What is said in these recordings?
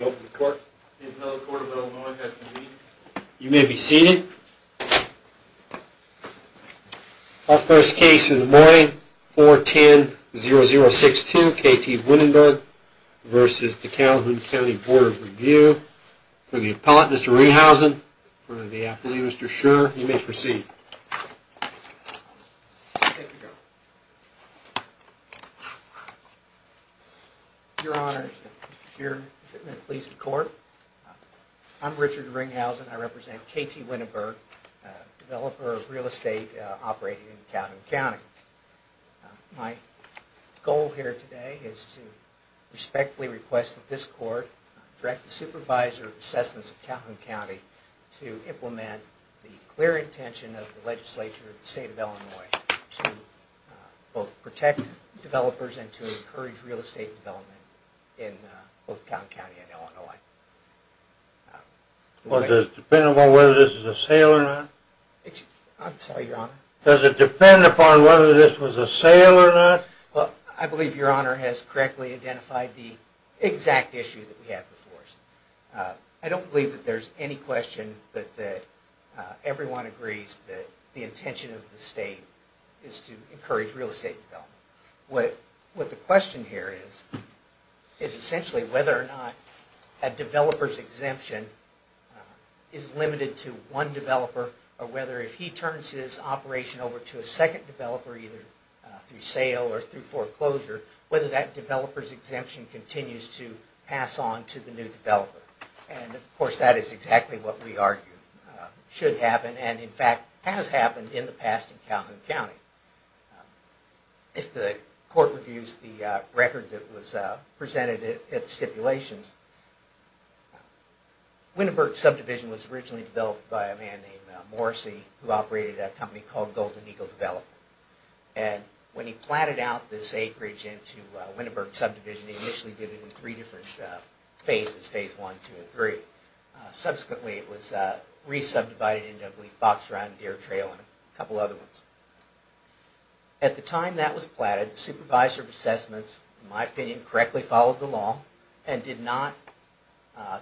You may be seated. Our first case in Des Moines 410062 K.T. Winneberg v. The Calhoun County Board of Review. For the appellate Mr. Rehausen, for the appellee Mr. Scherer, you may proceed. Your Honor, Mr. Scherer pleads the court. I'm Richard Rehausen. I represent K.T. Winneberg, developer of real estate operating in Calhoun County. My goal here today is to respectfully request that this court direct the supervisor of assessments of Calhoun County to implement the clear intention of the legislature of the state of Illinois to both protect developers and to encourage real estate development in both Calhoun County and Illinois. Well, does it depend upon whether this is a sale or not? I'm sorry, Your Honor. Does it depend upon whether this was a sale or not? Well, I believe Your Honor has correctly identified the exact issue that we have before us. I don't believe that there's any question but that everyone agrees that the intention of the state is to encourage real estate development. What the question here is, is essentially whether or not a developer's exemption is limited to one developer or whether if he turns his operation over to a second developer, either through sale or through foreclosure, whether that developer's exemption continues to pass on to the new developer. And of course that is exactly what we argue should happen and in fact has happened in the past in Calhoun County. If the court reviews the record that was presented at stipulations, Winneberg subdivision was originally built by a man named Morrissey who operated a company called Golden Eagle Development. And when he planted out this acreage into Winneberg subdivision, he initially did it in three different phases, phase one, two, and three. Subsequently it was re-subdivided into, I believe, Fox Run, Deer Trail, and a couple other ones. At the time that was planted, the supervisor of assessments, in my opinion, correctly followed the law and did not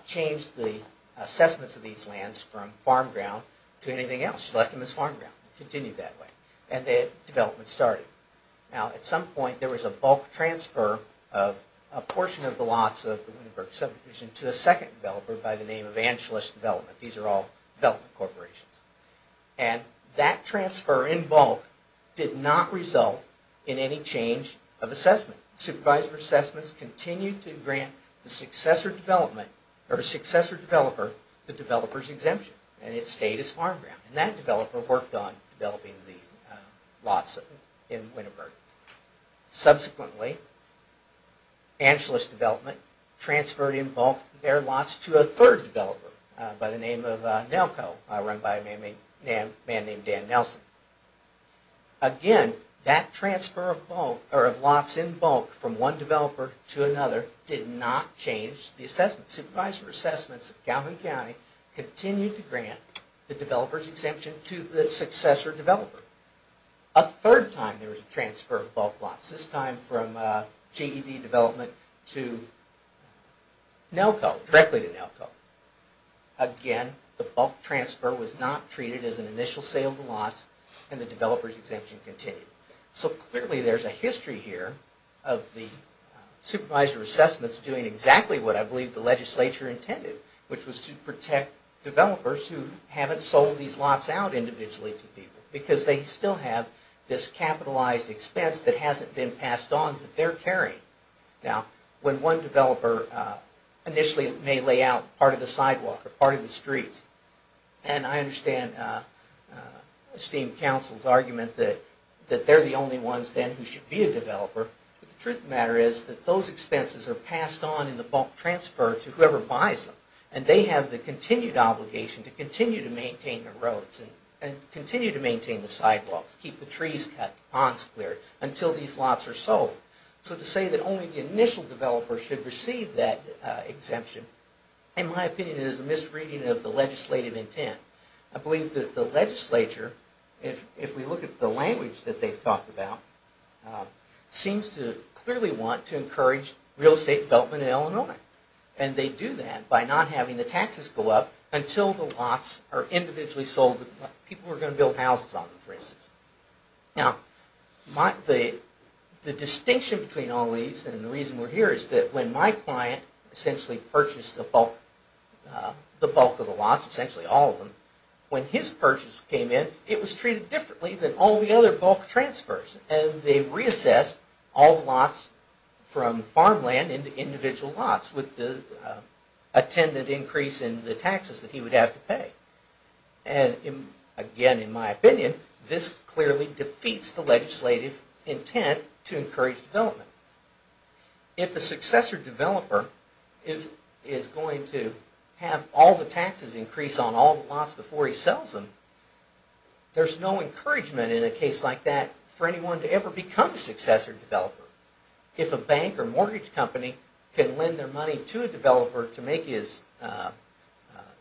change the assessments of these lands from farm ground to anything else. She left them as farm ground and continued that way. And the development started. Now at some point there was a bulk transfer of a portion of the lots of the Winneberg subdivision to a second developer by the name of Angelus Development. These are all development corporations. And that transfer in bulk did not result in any change of assessment. Supervisor of assessments continued to grant the successor development, or successor developer, the developer's exemption and it stayed as farm ground. And that developer worked on developing the lots in Winneberg. Subsequently, Angelus Development transferred in bulk their lots to a third developer by the name of Nelko, run by a man named Dan Nelson. Again, that transfer of lots in bulk from one developer to another did not change the assessment. Supervisor of assessments of Calhoun County continued to grant the developer's exemption to the successor developer. A third time there was a transfer of bulk lots. This time from GED Development to Nelko, directly to Nelko. Again, the bulk transfer was not treated as an initial sale of the lots and the developer's exemption continued. So clearly there's a history here of the supervisor of assessments doing exactly what I believe the legislature intended, which was to protect developers who haven't sold these lots out individually to people. Because they still have this capitalized expense that hasn't been passed on that they're carrying. Now when one developer initially may lay out part of the sidewalk or part of the streets, and I understand the esteemed council's argument that they're the only ones then who should be a developer, but the truth of the matter is that those expenses are passed on in the bulk transfer to whoever buys them. And they have the continued obligation to continue to maintain the roads and continue to maintain the sidewalks, keep the trees cut, ponds cleared, until these lots are sold. So to say that only the initial developer should receive that exemption, in my opinion, is a misreading of the legislature. If we look at the language that they've talked about, it seems to clearly want to encourage real estate development in Illinois. And they do that by not having the taxes go up until the lots are individually sold to people who are going to build houses on them, for instance. Now the distinction between all these and the reason we're here is that when my client essentially purchased the bulk of the lots, essentially all of them, when his purchase came in it was treated differently than all the other bulk transfers. And they reassessed all the lots from farmland into individual lots with the attendant increase in the taxes that he would have to pay. And again, in my opinion, this clearly defeats the legislative intent to encourage development. If the successor developer is going to have all the taxes increase on all the lots before he sells them, there's no encouragement in a case like that for anyone to ever become a successor developer. If a bank or mortgage company can lend their money to a developer to make his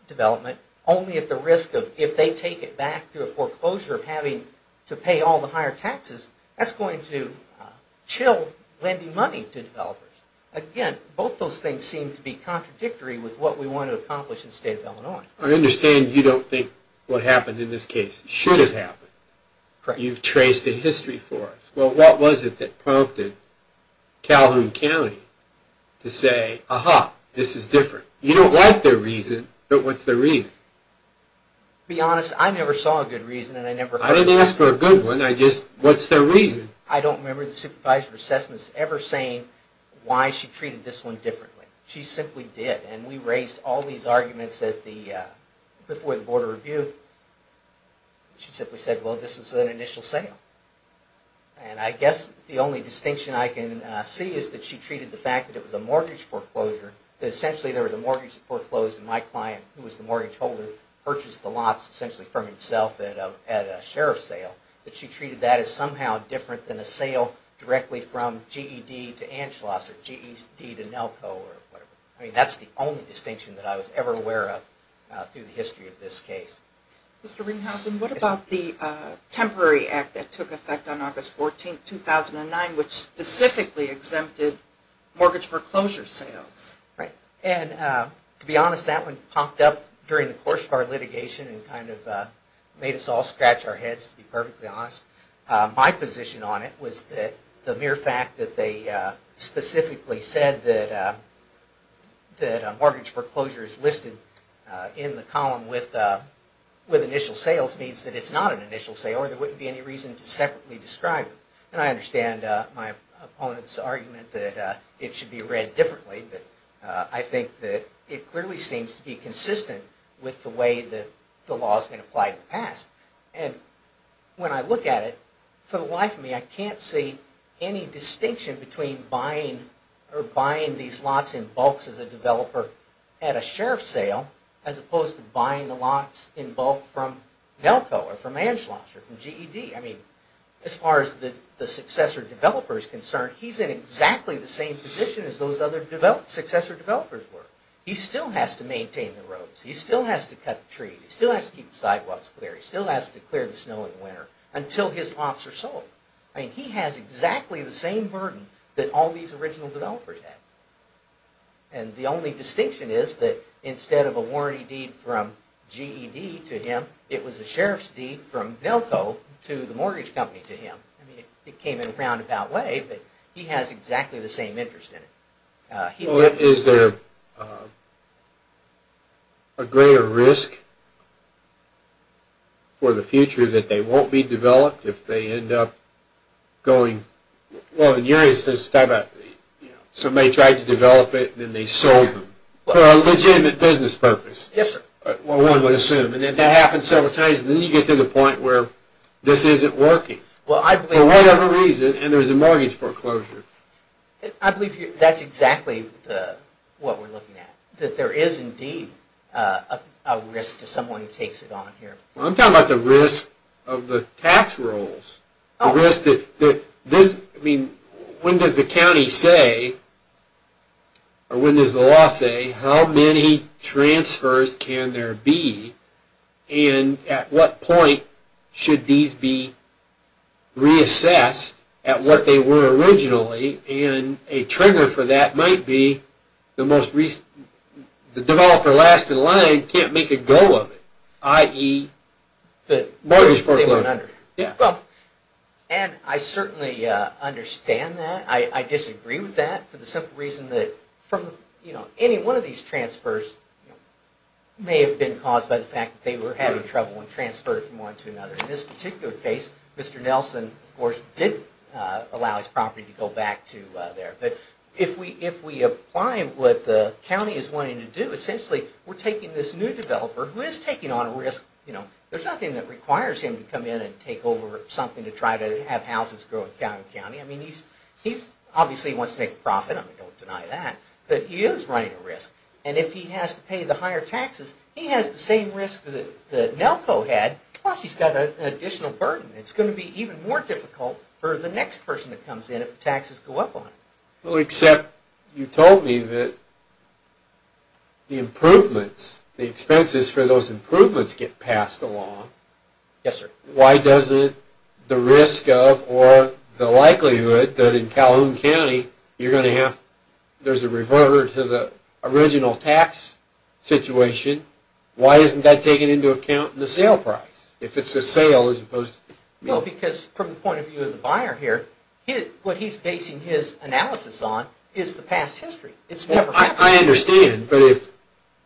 development, only at the risk of if they take it back to a foreclosure of having to pay all the taxes, that's going to chill lending money to developers. Again, both those things seem to be contradictory with what we want to accomplish in the state of Illinois. I understand you don't think what happened in this case should have happened. Correct. You've traced a history for us. Well, what was it that prompted Calhoun County to say, aha, this is different? You don't like their reason, but what's the reason? To be honest, I never saw a good reason and I never heard one. I didn't ask for a good one, what's their reason? I don't remember the supervisor of assessments ever saying why she treated this one differently. She simply did. We raised all these arguments before the Board of Review. She simply said, well, this is an initial sale. I guess the only distinction I can see is that she treated the fact that it was a mortgage foreclosure, that essentially there was a mortgage foreclosed and my client, who was the mortgage that is somehow different than a sale directly from GED to Anschloss or GED to Nelco or whatever. I mean, that's the only distinction that I was ever aware of through the history of this case. Mr. Ringhausen, what about the temporary act that took effect on August 14, 2009, which specifically exempted mortgage foreclosure sales? Right. And to be honest, that one popped up during the course of our litigation and kind of made us all scratch our heads, to be perfectly honest. My position on it was that the mere fact that they specifically said that a mortgage foreclosure is listed in the column with initial sales means that it's not an initial sale or there wouldn't be any reason to separately describe it. And I understand my opponent's argument that it should be read differently, but I think that it clearly seems to be consistent with the way that the law has been applied in the past. And when I look at it, for the life of me, I can't see any distinction between buying or buying these lots in bulk as a developer at a sheriff's sale as opposed to buying the lots in bulk from Nelco or from Anschloss or from GED. I mean, as far as the successor developer is concerned, he's in exactly the same position as those other successor developers were. He still has to maintain the roads. He still has to cut the trees. He still has to keep the sidewalks clear. He still has to clear the snow in the winter until his lots are sold. I mean, he has exactly the same burden that all these original developers had. And the only distinction is that instead of a warranty deed from GED to him, it was a sheriff's deed from Nelco to the mortgage company to him. I mean, it came in a roundabout way, but he has exactly the same interest in it. Well, is there a greater risk for the future that they won't be developed if they end up going... well, in your instance, somebody tried to develop it and then they sold them for a legitimate business purpose. Yes, sir. Well, one would assume. And then that happens several times, and then you get to the point where this isn't working for whatever reason, and there's a mortgage foreclosure. I believe that's exactly what we're looking at, that there is indeed a risk to someone who takes it on here. I'm talking about the risk of the tax rules. I mean, when does the county say, or when does the law say, how many transfers can there be? And at what point should these be reassessed at what they were originally? And a trigger for that might be the developer last in line can't make a go of it, i.e., the mortgage foreclosure. Yeah, well, and I certainly understand that. I disagree with that for the simple reason that any one of these transfers may have been caused by the fact that they were having trouble when transferring from one to another. In this particular case, Mr. Nelson, of course, did allow his property to go back to there. But if we apply what the county is wanting to do, essentially, we're taking this new developer, who is taking on a risk. There's nothing that requires him to come in and take over something to try to have houses grow in Cowney County. I wants to make a profit. I'm going to go with deny that. But he is running a risk. And if he has to pay the higher taxes, he has the same risk that NELCO had. Plus, he's got an additional burden. It's going to be even more difficult for the next person that comes in if the taxes go up on it. Well, except you told me that the improvements, the expenses for those improvements get passed along. Yes, sir. Why doesn't the risk of or the likelihood that in Calhoun County, you're going to have, there's a reverter to the original tax situation. Why isn't that taken into account in the sale price? If it's a sale as opposed to... Well, because from the point of view of the buyer here, what he's basing his analysis on is the past history. I understand, but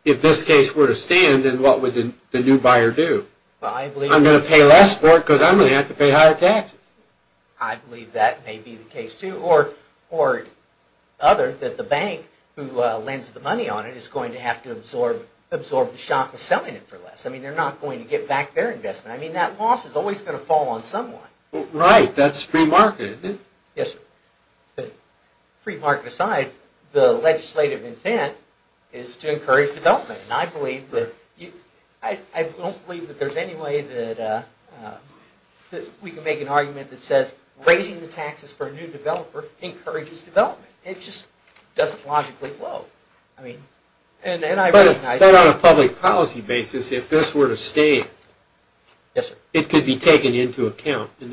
if this case were to stand, then what would the new buyer do? I'm going to pay less for it because I'm going to have to pay higher taxes. I believe that may be the case too. Or other, that the bank who lends the money on it is going to have to absorb the shock of selling it for less. I mean, they're not going to get back their investment. I mean, that loss is always going to fall on someone. Right. That's free market. Yes, sir. Free market aside, the legislative intent is to encourage development. I don't believe that there's any way that we can make an argument that says raising the taxes for a new developer encourages development. It just doesn't logically flow. But on a public policy basis, if this were to stay, it could be taken into account in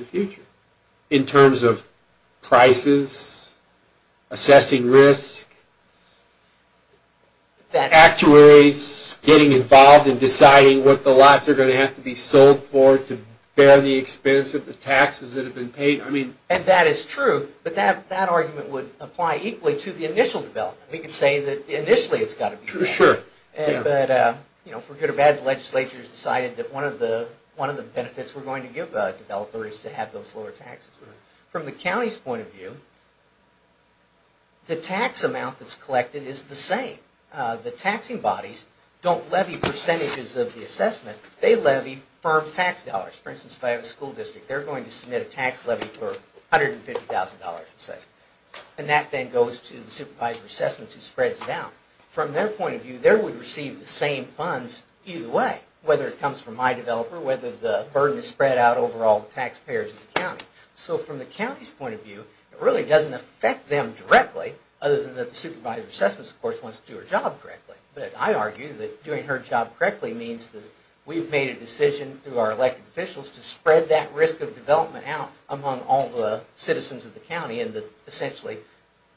the actuaries, getting involved in deciding what the lots are going to have to be sold for to bear the expense of the taxes that have been paid. I mean. And that is true, but that argument would apply equally to the initial development. We could say that initially it's got to be. Sure. But, you know, for good or bad, the legislature has decided that one of the benefits we're going to give a developer is to have those lower taxes. From the county's point of view, the tax amount that's collected is the same. The taxing bodies don't levy percentages of the assessment. They levy firm tax dollars. For instance, if I have a school district, they're going to submit a tax levy for $150,000, let's say. And that then goes to the supervisor of assessments who spreads it out. From their point of view, they would receive the same funds either way, whether it comes from my developer, whether the burden is spread out over all the taxpayers of the county. So from the county's point of view, it really doesn't affect them directly, other than that the supervisor of assessments, of course, wants to do her job correctly. But I argue that doing her job correctly means that we've made a decision through our elected officials to spread that risk of development out among all the citizens of the county and that essentially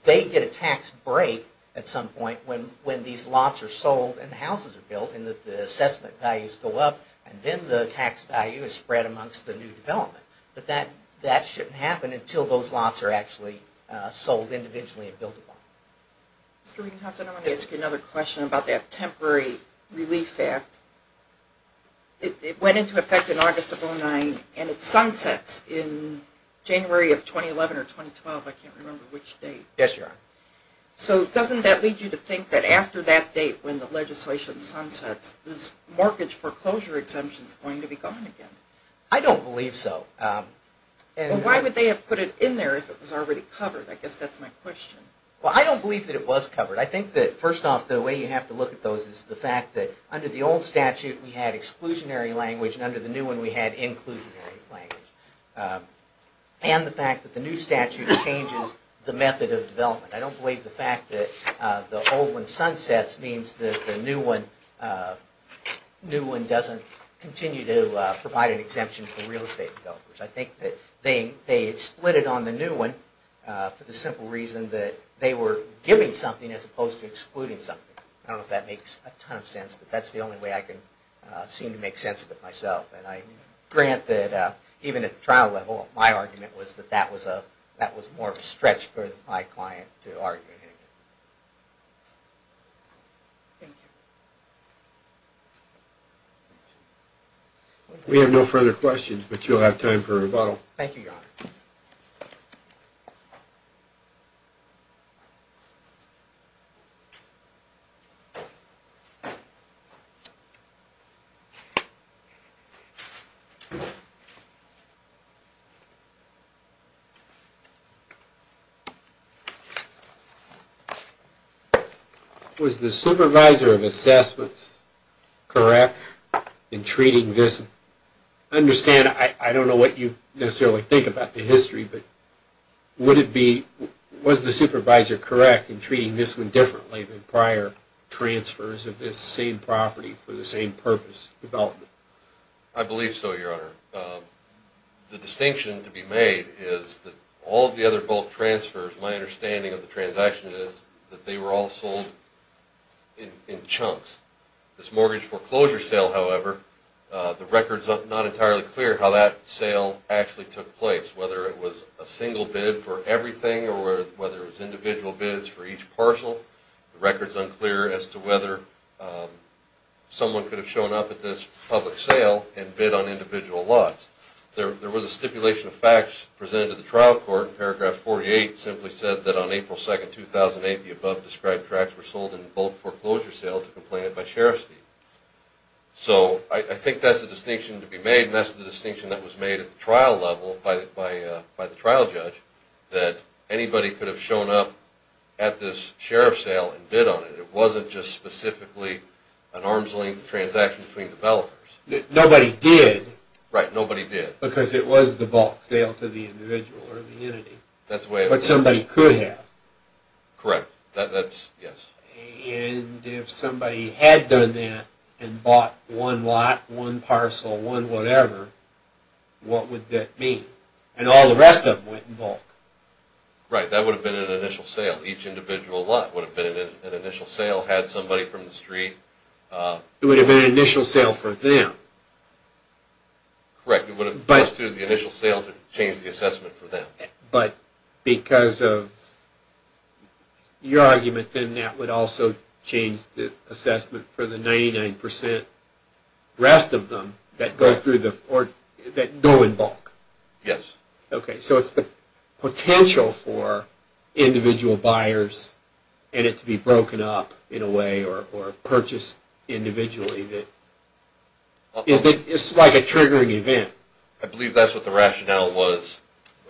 they get a tax break at some point when these lots are sold and houses are built and that the assessment values go up and then the tax value is spread amongst the new development. But that shouldn't happen until those lots are actually sold individually and built upon. Question from the audience. Mr. Reganhaus, I want to ask you another question about that temporary relief act. It went into effect in August of 2009 and it sunsets in January of 2011 or 2012, I can't remember which date. Yes, Your Honor. So doesn't that lead you to think that after that date when the legislation sunsets, this mortgage foreclosure exemption is going to be gone again? I don't believe so. Why would they have put it in there if it was already covered? I guess that's my question. Well, I don't believe that it was covered. I think that first off the way you have to look at those is the fact that under the old statute we had exclusionary language and under the new one we had inclusionary language. And the fact that the new statute changes the method of development. I don't believe the fact that the old one sunsets means that the new one doesn't continue to provide exemption for real estate developers. I think that they split it on the new one for the simple reason that they were giving something as opposed to excluding something. I don't know if that makes a ton of sense, but that's the only way I can seem to make sense of it myself. And I grant that even at the trial level my argument was that that was more of a stretch for my client to argue. Thank you. We have no further questions, but you'll have time for a rebuttal. Thank you, Your Honor. Was the supervisor of assessments correct in treating this? I understand, I don't know what you necessarily think about the history, but would it be, was the supervisor correct in treating this one differently than prior transfers of this same property for the same purpose development? I believe so, Your Honor. The distinction to be made is that all of the other bulk transfers, my understanding of the transaction is that they were all sold in chunks. This mortgage foreclosure sale, however, the record's not entirely clear how that sale actually took place, whether it was a single bid for everything or whether it was individual bids for each parcel. The record's unclear as to whether someone could have shown up at this public sale and bid on individual lots. There was a stipulation of facts presented to the trial court. Paragraph 48 simply said that on April 2nd, 2008, the above described tracts were sold in bulk foreclosure sale to complainant by sheriff's team. So I think that's the distinction to be made, and that's the distinction that was made at the trial level by the trial judge, that anybody could have shown up at this sheriff's sale and bid on it. It wasn't just specifically an arm's length transaction between developers. Nobody did. Right, nobody did. Because it was the bulk sale to the individual or the entity. That's the way it was. But somebody could have. Correct, that's, yes. And if somebody had done that and bought one lot, one parcel, one whatever, what would that mean? And all the rest of them went in bulk. Right, that would have been an initial sale. Each individual lot would have been an initial sale. It would have been an initial sale for them. Correct, it would have been an initial sale to change the assessment for them. But because of your argument, then that would also change the assessment for the 99% rest of them that go in bulk. Yes. Okay, so it's the potential for purchase individually that, it's like a triggering event. I believe that's what the rationale was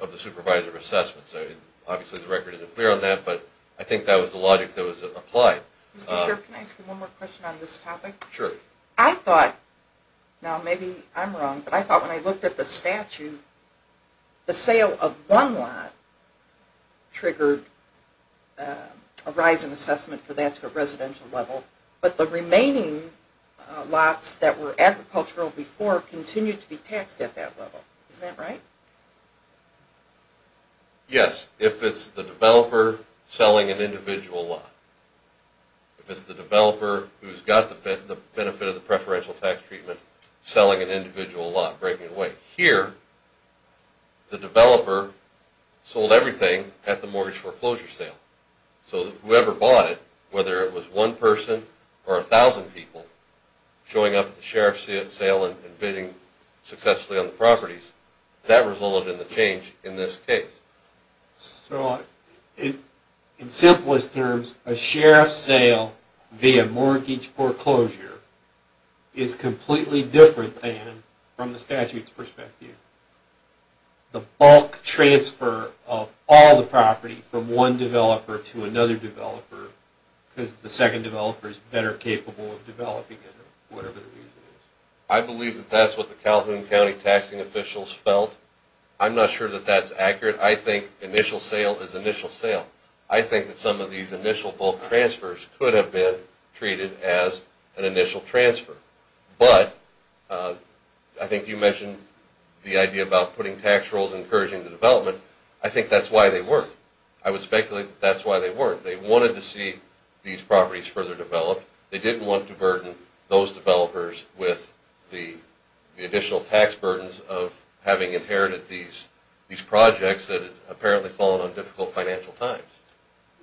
of the supervisor assessment. So obviously the record isn't clear on that, but I think that was the logic that was applied. Mr. Sheriff, can I ask you one more question on this topic? Sure. I thought, now maybe I'm wrong, but I thought when I looked at the statute, the sale of one lot triggered a rise in assessment for that to a residential level, but the remaining lots that were agricultural before continued to be taxed at that level. Is that right? Yes, if it's the developer selling an individual lot. If it's the developer who's got the benefit of the preferential tax treatment selling an individual lot, breaking it away. Here, the developer sold everything at the mortgage foreclosure sale. So whoever bought it, whether it was one person or a thousand people showing up at the sheriff's sale and bidding successfully on the properties, that resulted in the change in this case. So in simplest terms, a sheriff's sale via mortgage foreclosure is completely different than from the statute's the bulk transfer of all the property from one developer to another developer, because the second developer is better capable of developing it, whatever the reason is. I believe that that's what the Calhoun County taxing officials felt. I'm not sure that that's accurate. I think initial sale is initial sale. I think that some of these initial bulk transfers could have been treated as an initial transfer. But I think you mentioned the idea about putting tax rolls encouraging the development. I think that's why they weren't. I would speculate that that's why they weren't. They wanted to see these properties further developed. They didn't want to burden those developers with the additional tax burdens of having inherited these projects that apparently fallen on difficult financial times.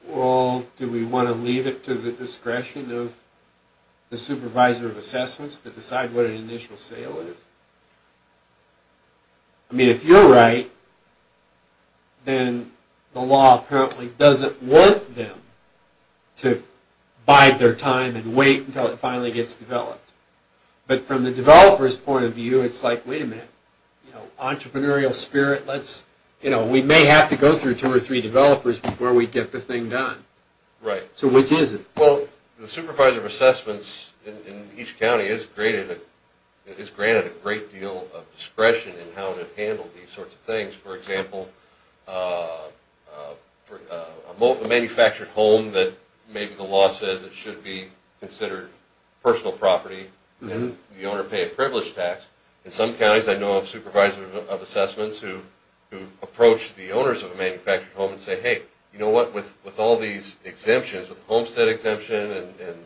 Well, do we want to leave it to the discretion of the supervisor of assessments to decide what an initial sale is? I mean, if you're right, then the law apparently doesn't want them to bide their time and wait until it finally gets developed. But from the developer's point of view, it's like, wait a minute, you know, entrepreneurial spirit, let's, you know, we may have to go through two or three developers before we get the thing done. Right. So which is it? Well, the supervisor of assessments in each county is granted a great deal of discretion in how to handle these sorts of things. For example, a manufactured home that maybe the law says it should be considered personal property and the owner pay a privileged tax. In some counties, I know of supervisors of assessments who approach the owners of a manufactured home and say, hey, you know what, with all these exemptions, with homestead exemption and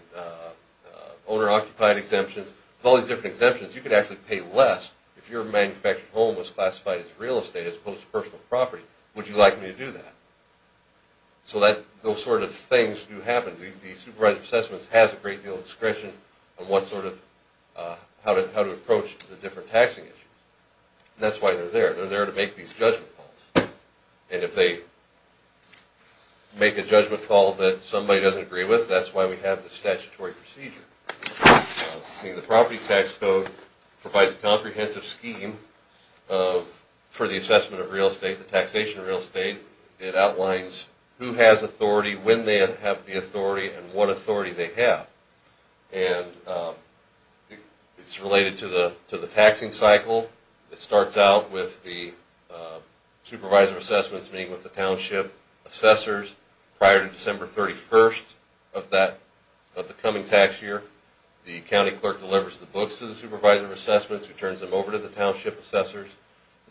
owner-occupied exemptions, with all these different exemptions, you could actually pay less if your manufactured home was classified as real estate as opposed to personal property. Would you like me to do that? So those sort of things do happen. The supervisor of assessments has a great deal of discretion on what sort of, how to approach the different taxing issues. That's why they're there. They're there to make these judgment calls. And if they make a judgment call that somebody doesn't agree with, that's why we have the statutory procedure. The property tax code provides a comprehensive scheme for the assessment of real estate, the taxation of real estate. It outlines who has authority, when they have the authority, and what authority they have. And it's related to the taxing cycle. It starts out with the supervisor of assessments meeting with the township assessors prior to December 31st of the coming tax year. The county clerk delivers the books to the supervisor of assessments, who turns them over to the township assessors.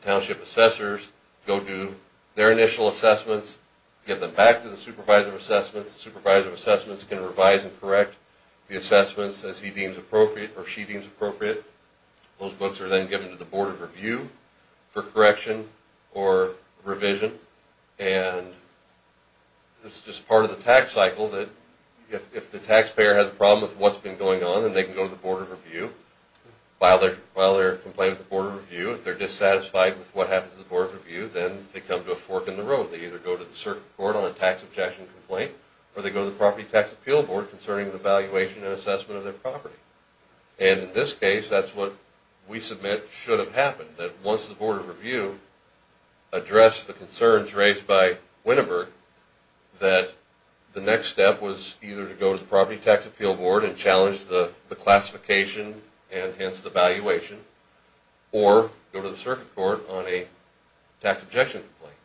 The township assessors go do their initial assessments, give them back to the supervisor of assessments. The supervisor of assessments can revise and correct the assessments as he deems appropriate or she deems appropriate. Those books are then given to the board of review for correction or revision. And it's just part of the tax cycle that if the taxpayer has a problem with what's been going on, then they can go to the board of review. While they're while they're complaining to the board review, if they're dissatisfied with what happens to the board of review, then they come to a fork in the road. They either go to the circuit court on a tax objection complaint, or they go to the property tax appeal board concerning the valuation and assessment of their property. And in this case, that's what we submit should have happened. That once the board of review addressed the concerns raised by Winneburg, that the next step was either to go to the property tax appeal board and go to the circuit court on a tax objection complaint.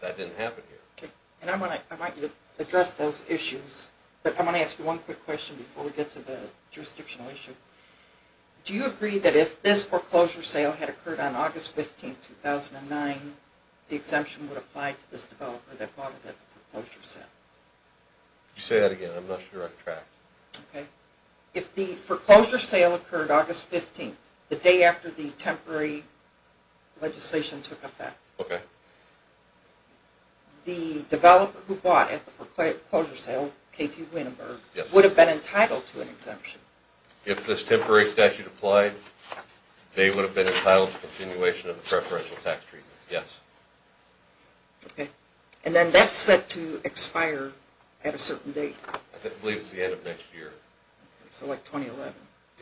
That didn't happen here. Okay, and I want to I want you to address those issues, but I want to ask you one quick question before we get to the jurisdictional issue. Do you agree that if this foreclosure sale had occurred on August 15, 2009, the exemption would apply to this developer that bought it at the foreclosure sale? You say that again, I'm not sure I'm tracked. Okay, if the foreclosure sale occurred August 15, the day after the temporary legislation took effect, the developer who bought at the foreclosure sale, K.T. Winneburg, would have been entitled to an exemption? If this temporary statute applied, they would have been entitled to continuation of the preferential tax treatment, yes. Okay, and then that's set to expire at a certain date? I believe it's the end of next year. So like 2011,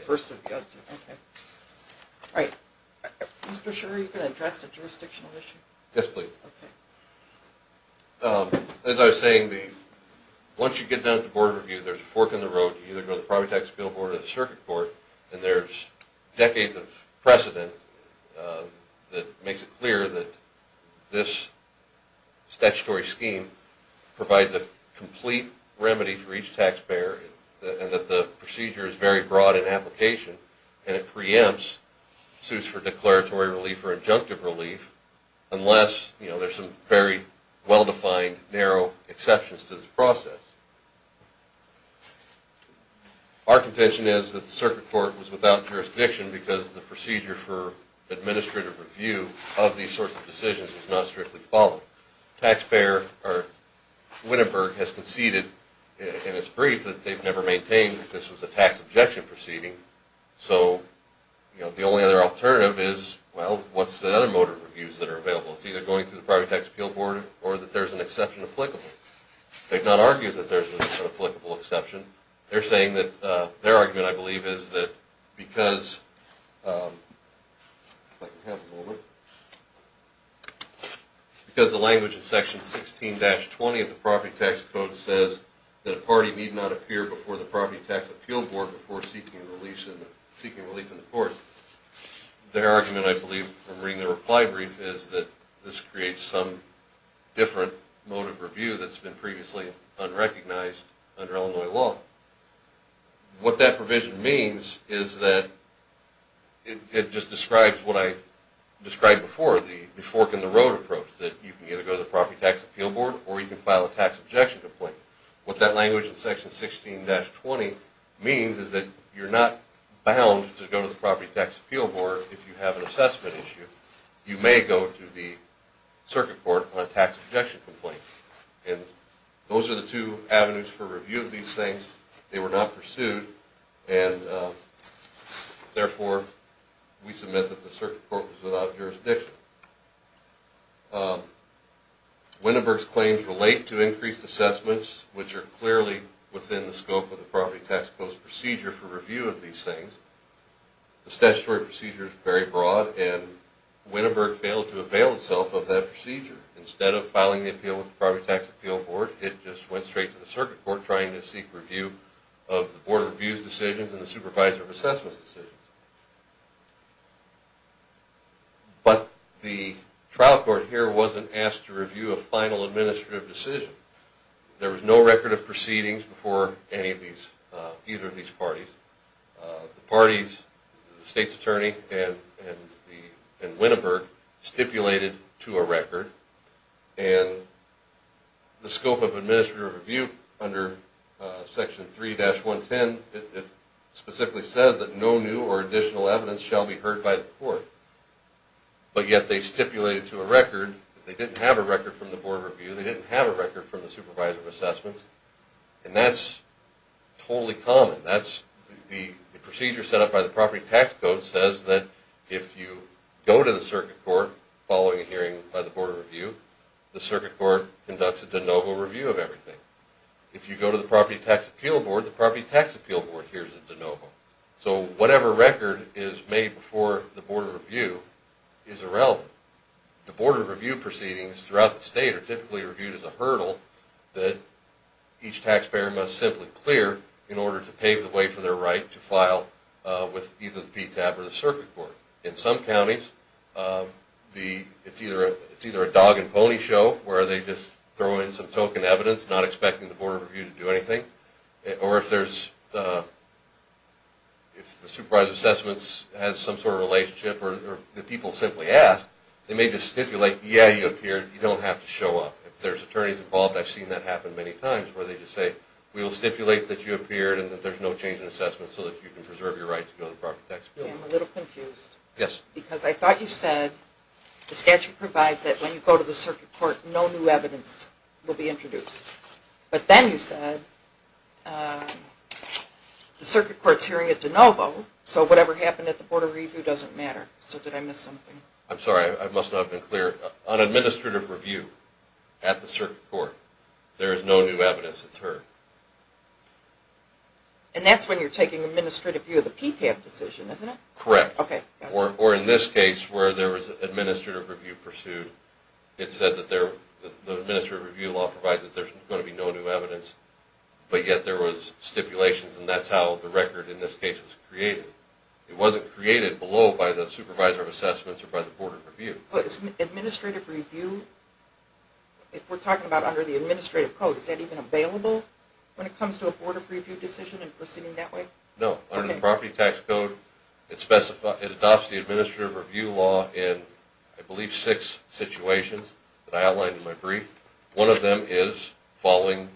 first of the year, okay. All right, Mr. Scherer, are you going to address the jurisdictional issue? Yes, please. Okay. As I was saying, once you get down to board review, there's a fork in the road. You either go to the property tax appeal board or the circuit court, and there's decades of precedent that makes it clear that this statutory scheme provides a procedure that's very broad in application, and it preempts suits for declaratory relief or injunctive relief unless there's some very well-defined, narrow exceptions to this process. Our contention is that the circuit court was without jurisdiction because the procedure for administrative review of these sorts of decisions was not strictly followed. Winneburg has conceded in its brief that they've never maintained that this was a tax objection proceeding, so the only other alternative is, well, what's the other motive reviews that are available? It's either going through the property tax appeal board or that there's an exception applicable. They've not argued that there's an applicable exception. They're saying that their argument, I believe, is that because the language in section 16-20 of the property tax code says that a party need not appear before the property tax appeal board before seeking relief in the court, their argument, I believe, from reading the reply brief is that this creates some different motive review that's been previously unrecognized under Illinois law. What that provision means is that it just describes what I described before, the fork in the road approach, that you can either go to the property tax appeal board or you can file a tax objection complaint. What that language in section 16-20 means is that you're not bound to go to the property tax appeal board if you have an assessment issue. You may go to the circuit court on a tax objection complaint, and those are the two avenues for review of these things. They were not pursued, and therefore, we submit that the circuit court was without jurisdiction. Winneberg's claims relate to increased assessments, which are clearly within the scope of the property tax code's procedure for review of these things. The statutory procedure is very broad, and Winneberg failed to avail itself of that procedure. Instead of filing the appeal with the property tax appeal board, it just went straight to the circuit court trying to seek review of the board of review's decisions and the supervisor of assessments' decisions. But the trial court here wasn't asked to review a final administrative decision. There was no record of proceedings before any of these, either of these parties. The parties, the state's attorney and Winneberg stipulated to a record, and the scope of administrative review under section 3-110, it specifically says that no new or additional evidence shall be heard by the court. But yet they stipulated to a record. They didn't have a record from the board of review. They didn't have a record from the supervisor of assessments, and that's totally common. The procedure set up by the property tax code says that if you go to the circuit court following a hearing by the board of review, the circuit court conducts a de novo review of everything. If you go to the property tax appeal board, the property tax appeal board hears a de novo. So whatever record is made before the board of review is irrelevant. The board of review proceedings throughout the state are typically reviewed as a hurdle that each taxpayer must simply clear in order to pave the way for their right to file with either the PTAP or the circuit court. In some counties, it's either a dog and pony show where they just throw in some token evidence, not expecting the board of review to do anything, or if the supervisor of assessments has some sort of relationship or the people simply ask, they may just stipulate, yeah, you appeared. You don't have to show up. If there's attorneys involved, I've seen that happen many times where they just say, we will stipulate that you appeared and that there's no change in assessment so that you can preserve your right to go to the property tax appeal. I'm a little confused. Yes. Because I thought you said the statute provides that when you go to the circuit court, no new evidence will be introduced. But then you said the circuit court's hearing a de novo, so whatever happened at the board of review doesn't matter. So did I miss something? I'm sorry. I must not have been clear. On administrative review at the circuit court, there is no new evidence that's heard. And that's when you're taking administrative view of the PTAP decision, isn't it? Correct. Okay. Or in this case where there was administrative review pursued, it said that the administrative review law provides that there's going to be no new evidence, but yet there was stipulations and that's how the record in this case was created. It wasn't created below by the supervisor of assessments or by the board of review. But administrative review, if we're talking about under the administrative code, is that even available when it comes to a board of review decision and proceeding that way? No. Under the that I outlined in my brief, one of them is following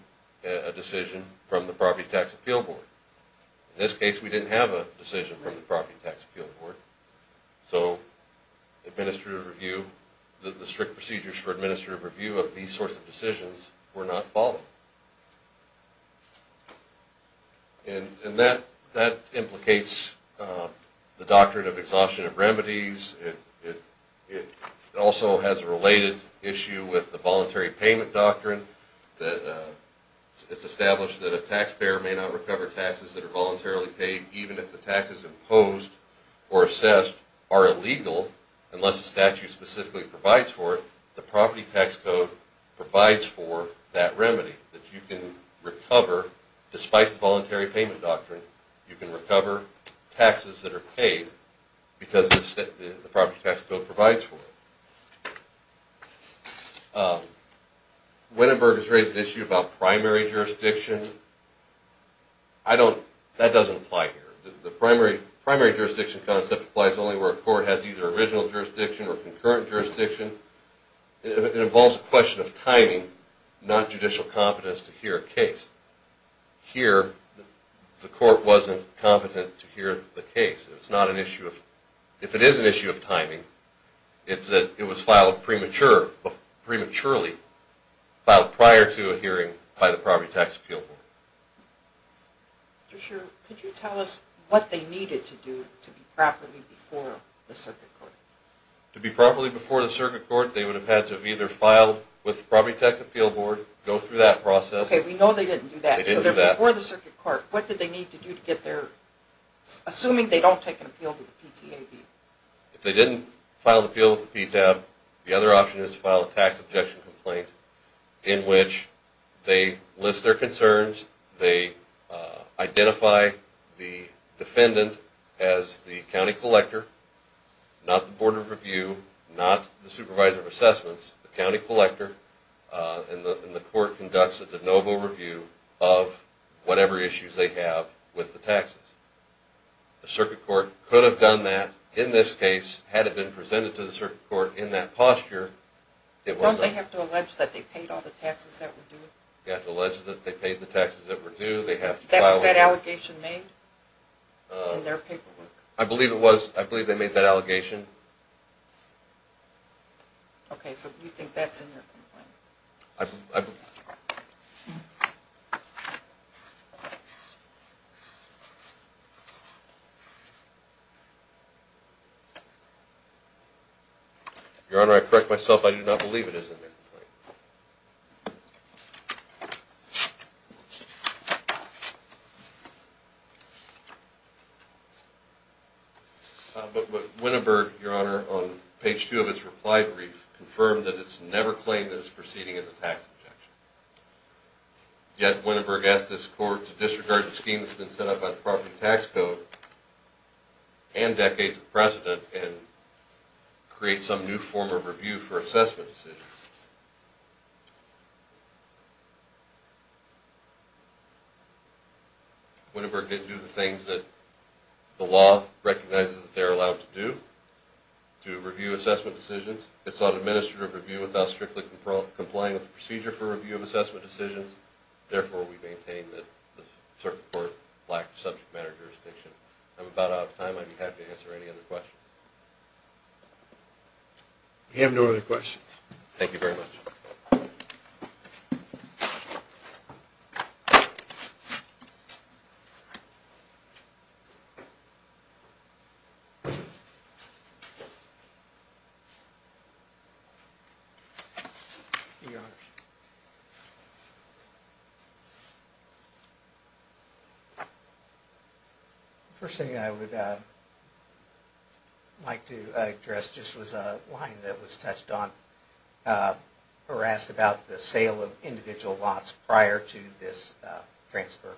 a decision from the property tax appeal board. In this case, we didn't have a decision from the property tax appeal board. So administrative review, the strict procedures for administrative review of these sorts of decisions were not followed. And that implicates the doctrine of exhaustion of remedies. It also has a related issue with the voluntary payment doctrine. It's established that a taxpayer may not recover taxes that are voluntarily paid even if the taxes imposed or assessed are illegal unless the statute specifically provides for it. The property tax code provides for that remedy that you can recover despite the voluntary payment doctrine. You can recover taxes that are paid because the property tax code provides for it. Wittenberg has raised the issue about primary jurisdiction. That doesn't apply here. The primary jurisdiction concept applies only where a court has either original jurisdiction or concurrent jurisdiction. It involves a question of timing, not judicial competence to hear a case. Here, the court wasn't competent to hear the case. If it is an issue of timing, it's that it was filed prematurely, filed prior to a hearing by the property tax appeal board. Mr. Schur, could you tell us what they needed to do to be properly before the circuit court? To be properly before the circuit court, they would have had to have either filed with the PTAB or filed with the PTAB. If they didn't file an appeal with the PTAB, the other option is to file a tax objection complaint in which they list their concerns, they identify the defendant as the county collector, not the board of review, not the supervisor of assessments, the county collector, and the court conducts a de novo review of whatever issues they have with the taxes. The circuit court could have done that in this case had it been presented to the circuit court in that posture. Don't they have to allege that they paid all the taxes that were due? They have to allege that they paid the taxes that were due. That was that allegation made in their paperwork? I believe it was. I believe they made that allegation. Okay, so you think that's in their complaint? Your Honor, I correct myself. I do not believe it is in their complaint. But Wittenberg, Your Honor, on page two of its reply brief confirmed that it's never claimed that it's proceeding as a tax objection. Yet Wittenberg asked this court to disregard the scheme that's been set up by the Department of Tax Code and decades of precedent and create some new form of review for assessment decisions. Wittenberg didn't do the things that the law recognizes that they're allowed to do to review assessment decisions. It's not administrative review without strictly complying with the procedure for review of assessment decisions. Therefore, we maintain that the circuit court lacked subject matter jurisdiction. I'm about out of time. I'd be happy to answer any other questions. We have no other questions. Thank you very much. Your Honor, the first thing I would like to address just was a line that was touched on or asked about the sale of individual lots prior to this transfer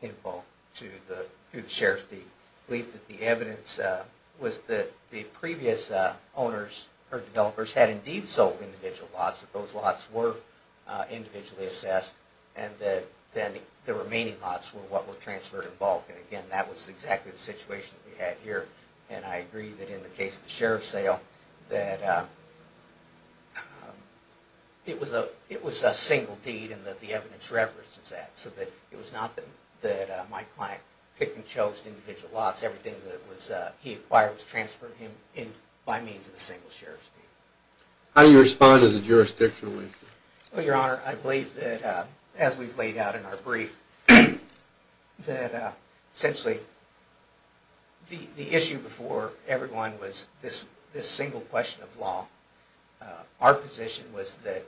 in bulk to the through the Sheriff's Department. I believe that the evidence was that the previous owners or developers had indeed sold individual lots, that those lots were individually assessed, and that then the remaining lots were what were transferred in bulk. And again, that was exactly the situation we had here. And I agree that in the case of the Sheriff's sale that it was a single deed and that the evidence references that. So that it was not that my client picked and chose individual lots. Everything that was he acquired was transferred him in by means of a single Sheriff's deed. How do you respond to the jurisdictional issue? Well, Your Honor, I believe that as we've laid out in our brief that essentially the issue before everyone was this single question of law. Our position was that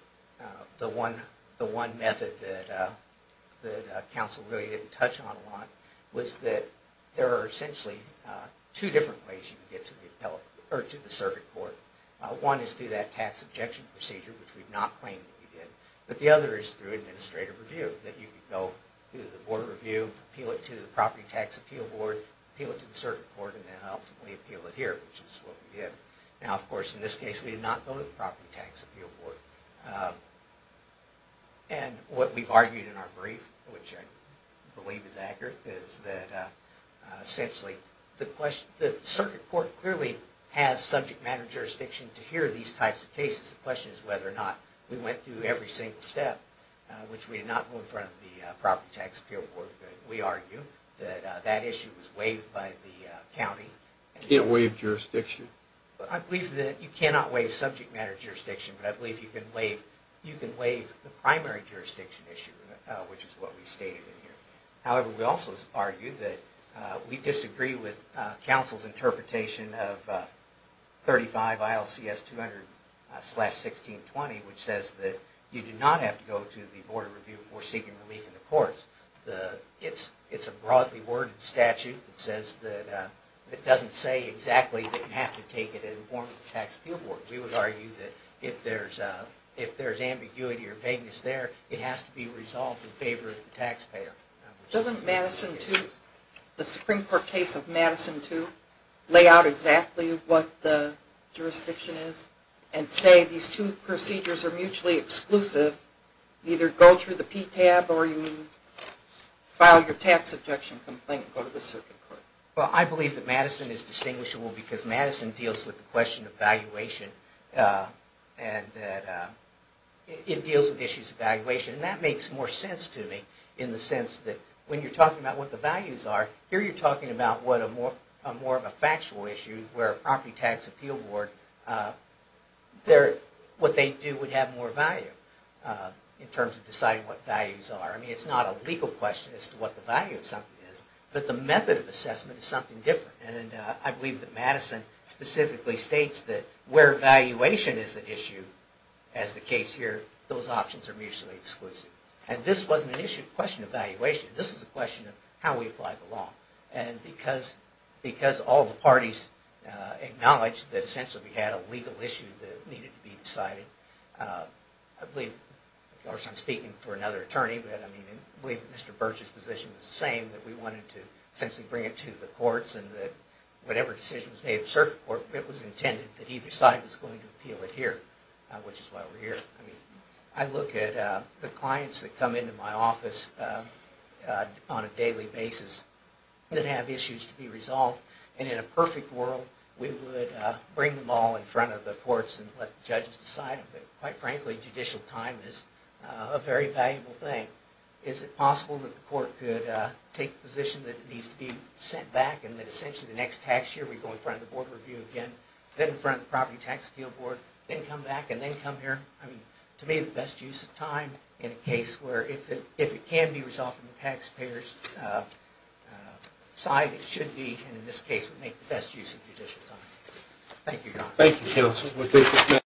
the one method that counsel really didn't touch on a lot was that there are essentially two different ways you can get to the circuit court. One is through that tax objection procedure, which we've not claimed that we did, but the other is through administrative review. That you can go to the Board of Review, appeal it to the Property Tax Appeal Board, appeal it to the circuit court, and then ultimately appeal it here, which is what we did. Now of course in this case we did not go to the Property Tax Appeal Board. And what we've argued in our brief, which I believe is accurate, is that essentially the circuit court clearly has subject matter jurisdiction to hear these types of cases. The question is whether or not we went through every single step, which we did not go in front of the Property Tax Appeal Board, but we argue that that issue was waived by the county. Can't waive jurisdiction? I believe that you cannot waive subject matter jurisdiction, but I believe you can waive the primary jurisdiction issue, which is what we stated in here. However, we also argue that we disagree with counsel's interpretation of 35 ILCS 200-1620, which says that you do not have to go to the Board of Review for seeking relief in the case. It's a broadly worded statute that says that it doesn't say exactly that you have to take it and inform the Tax Appeal Board. We would argue that if there's ambiguity or vagueness there, it has to be resolved in favor of the taxpayer. Doesn't Madison 2, the Supreme Court case of Madison 2, lay out exactly what the jurisdiction is and say these two procedures are mutually exclusive, either go through the PTAB or you file your tax objection complaint and go to the Supreme Court? Well, I believe that Madison is distinguishable because Madison deals with the question of valuation and that it deals with issues of valuation, and that makes more sense to me in the sense that when you're talking about what the values are, here you're talking about more of a factual issue where a Property Tax Appeal Board, what they do would have more value in terms of deciding what values are. I mean, it's not a legal question as to what the value of something is, but the method of assessment is something different. And I believe that Madison specifically states that where valuation is an issue, as the case here, those options are mutually exclusive. And this wasn't an issue of question of valuation, this was a question of how we apply the law. And because all the parties acknowledged that essentially we had a legal issue that needed to be decided, I believe, of course I'm speaking for another attorney, but I believe that Mr. Burch's position is the same, that we wanted to essentially bring it to the courts and that whatever decision was made in the Circuit Court, it was intended that either side was going to appeal it here, which is why we're here. I look at the clients that come into my office on a daily basis that have issues to be brought to the courts and let the judges decide, but quite frankly judicial time is a very valuable thing. Is it possible that the court could take the position that it needs to be sent back and that essentially the next tax year we go in front of the Board of Review again, then in front of the Property Tax Appeal Board, then come back and then come here? I mean, to me the best use of time in a case where if it can be resolved from the taxpayer's side, it should be and in this case would make the best use of judicial time. Thank you, Your Honor.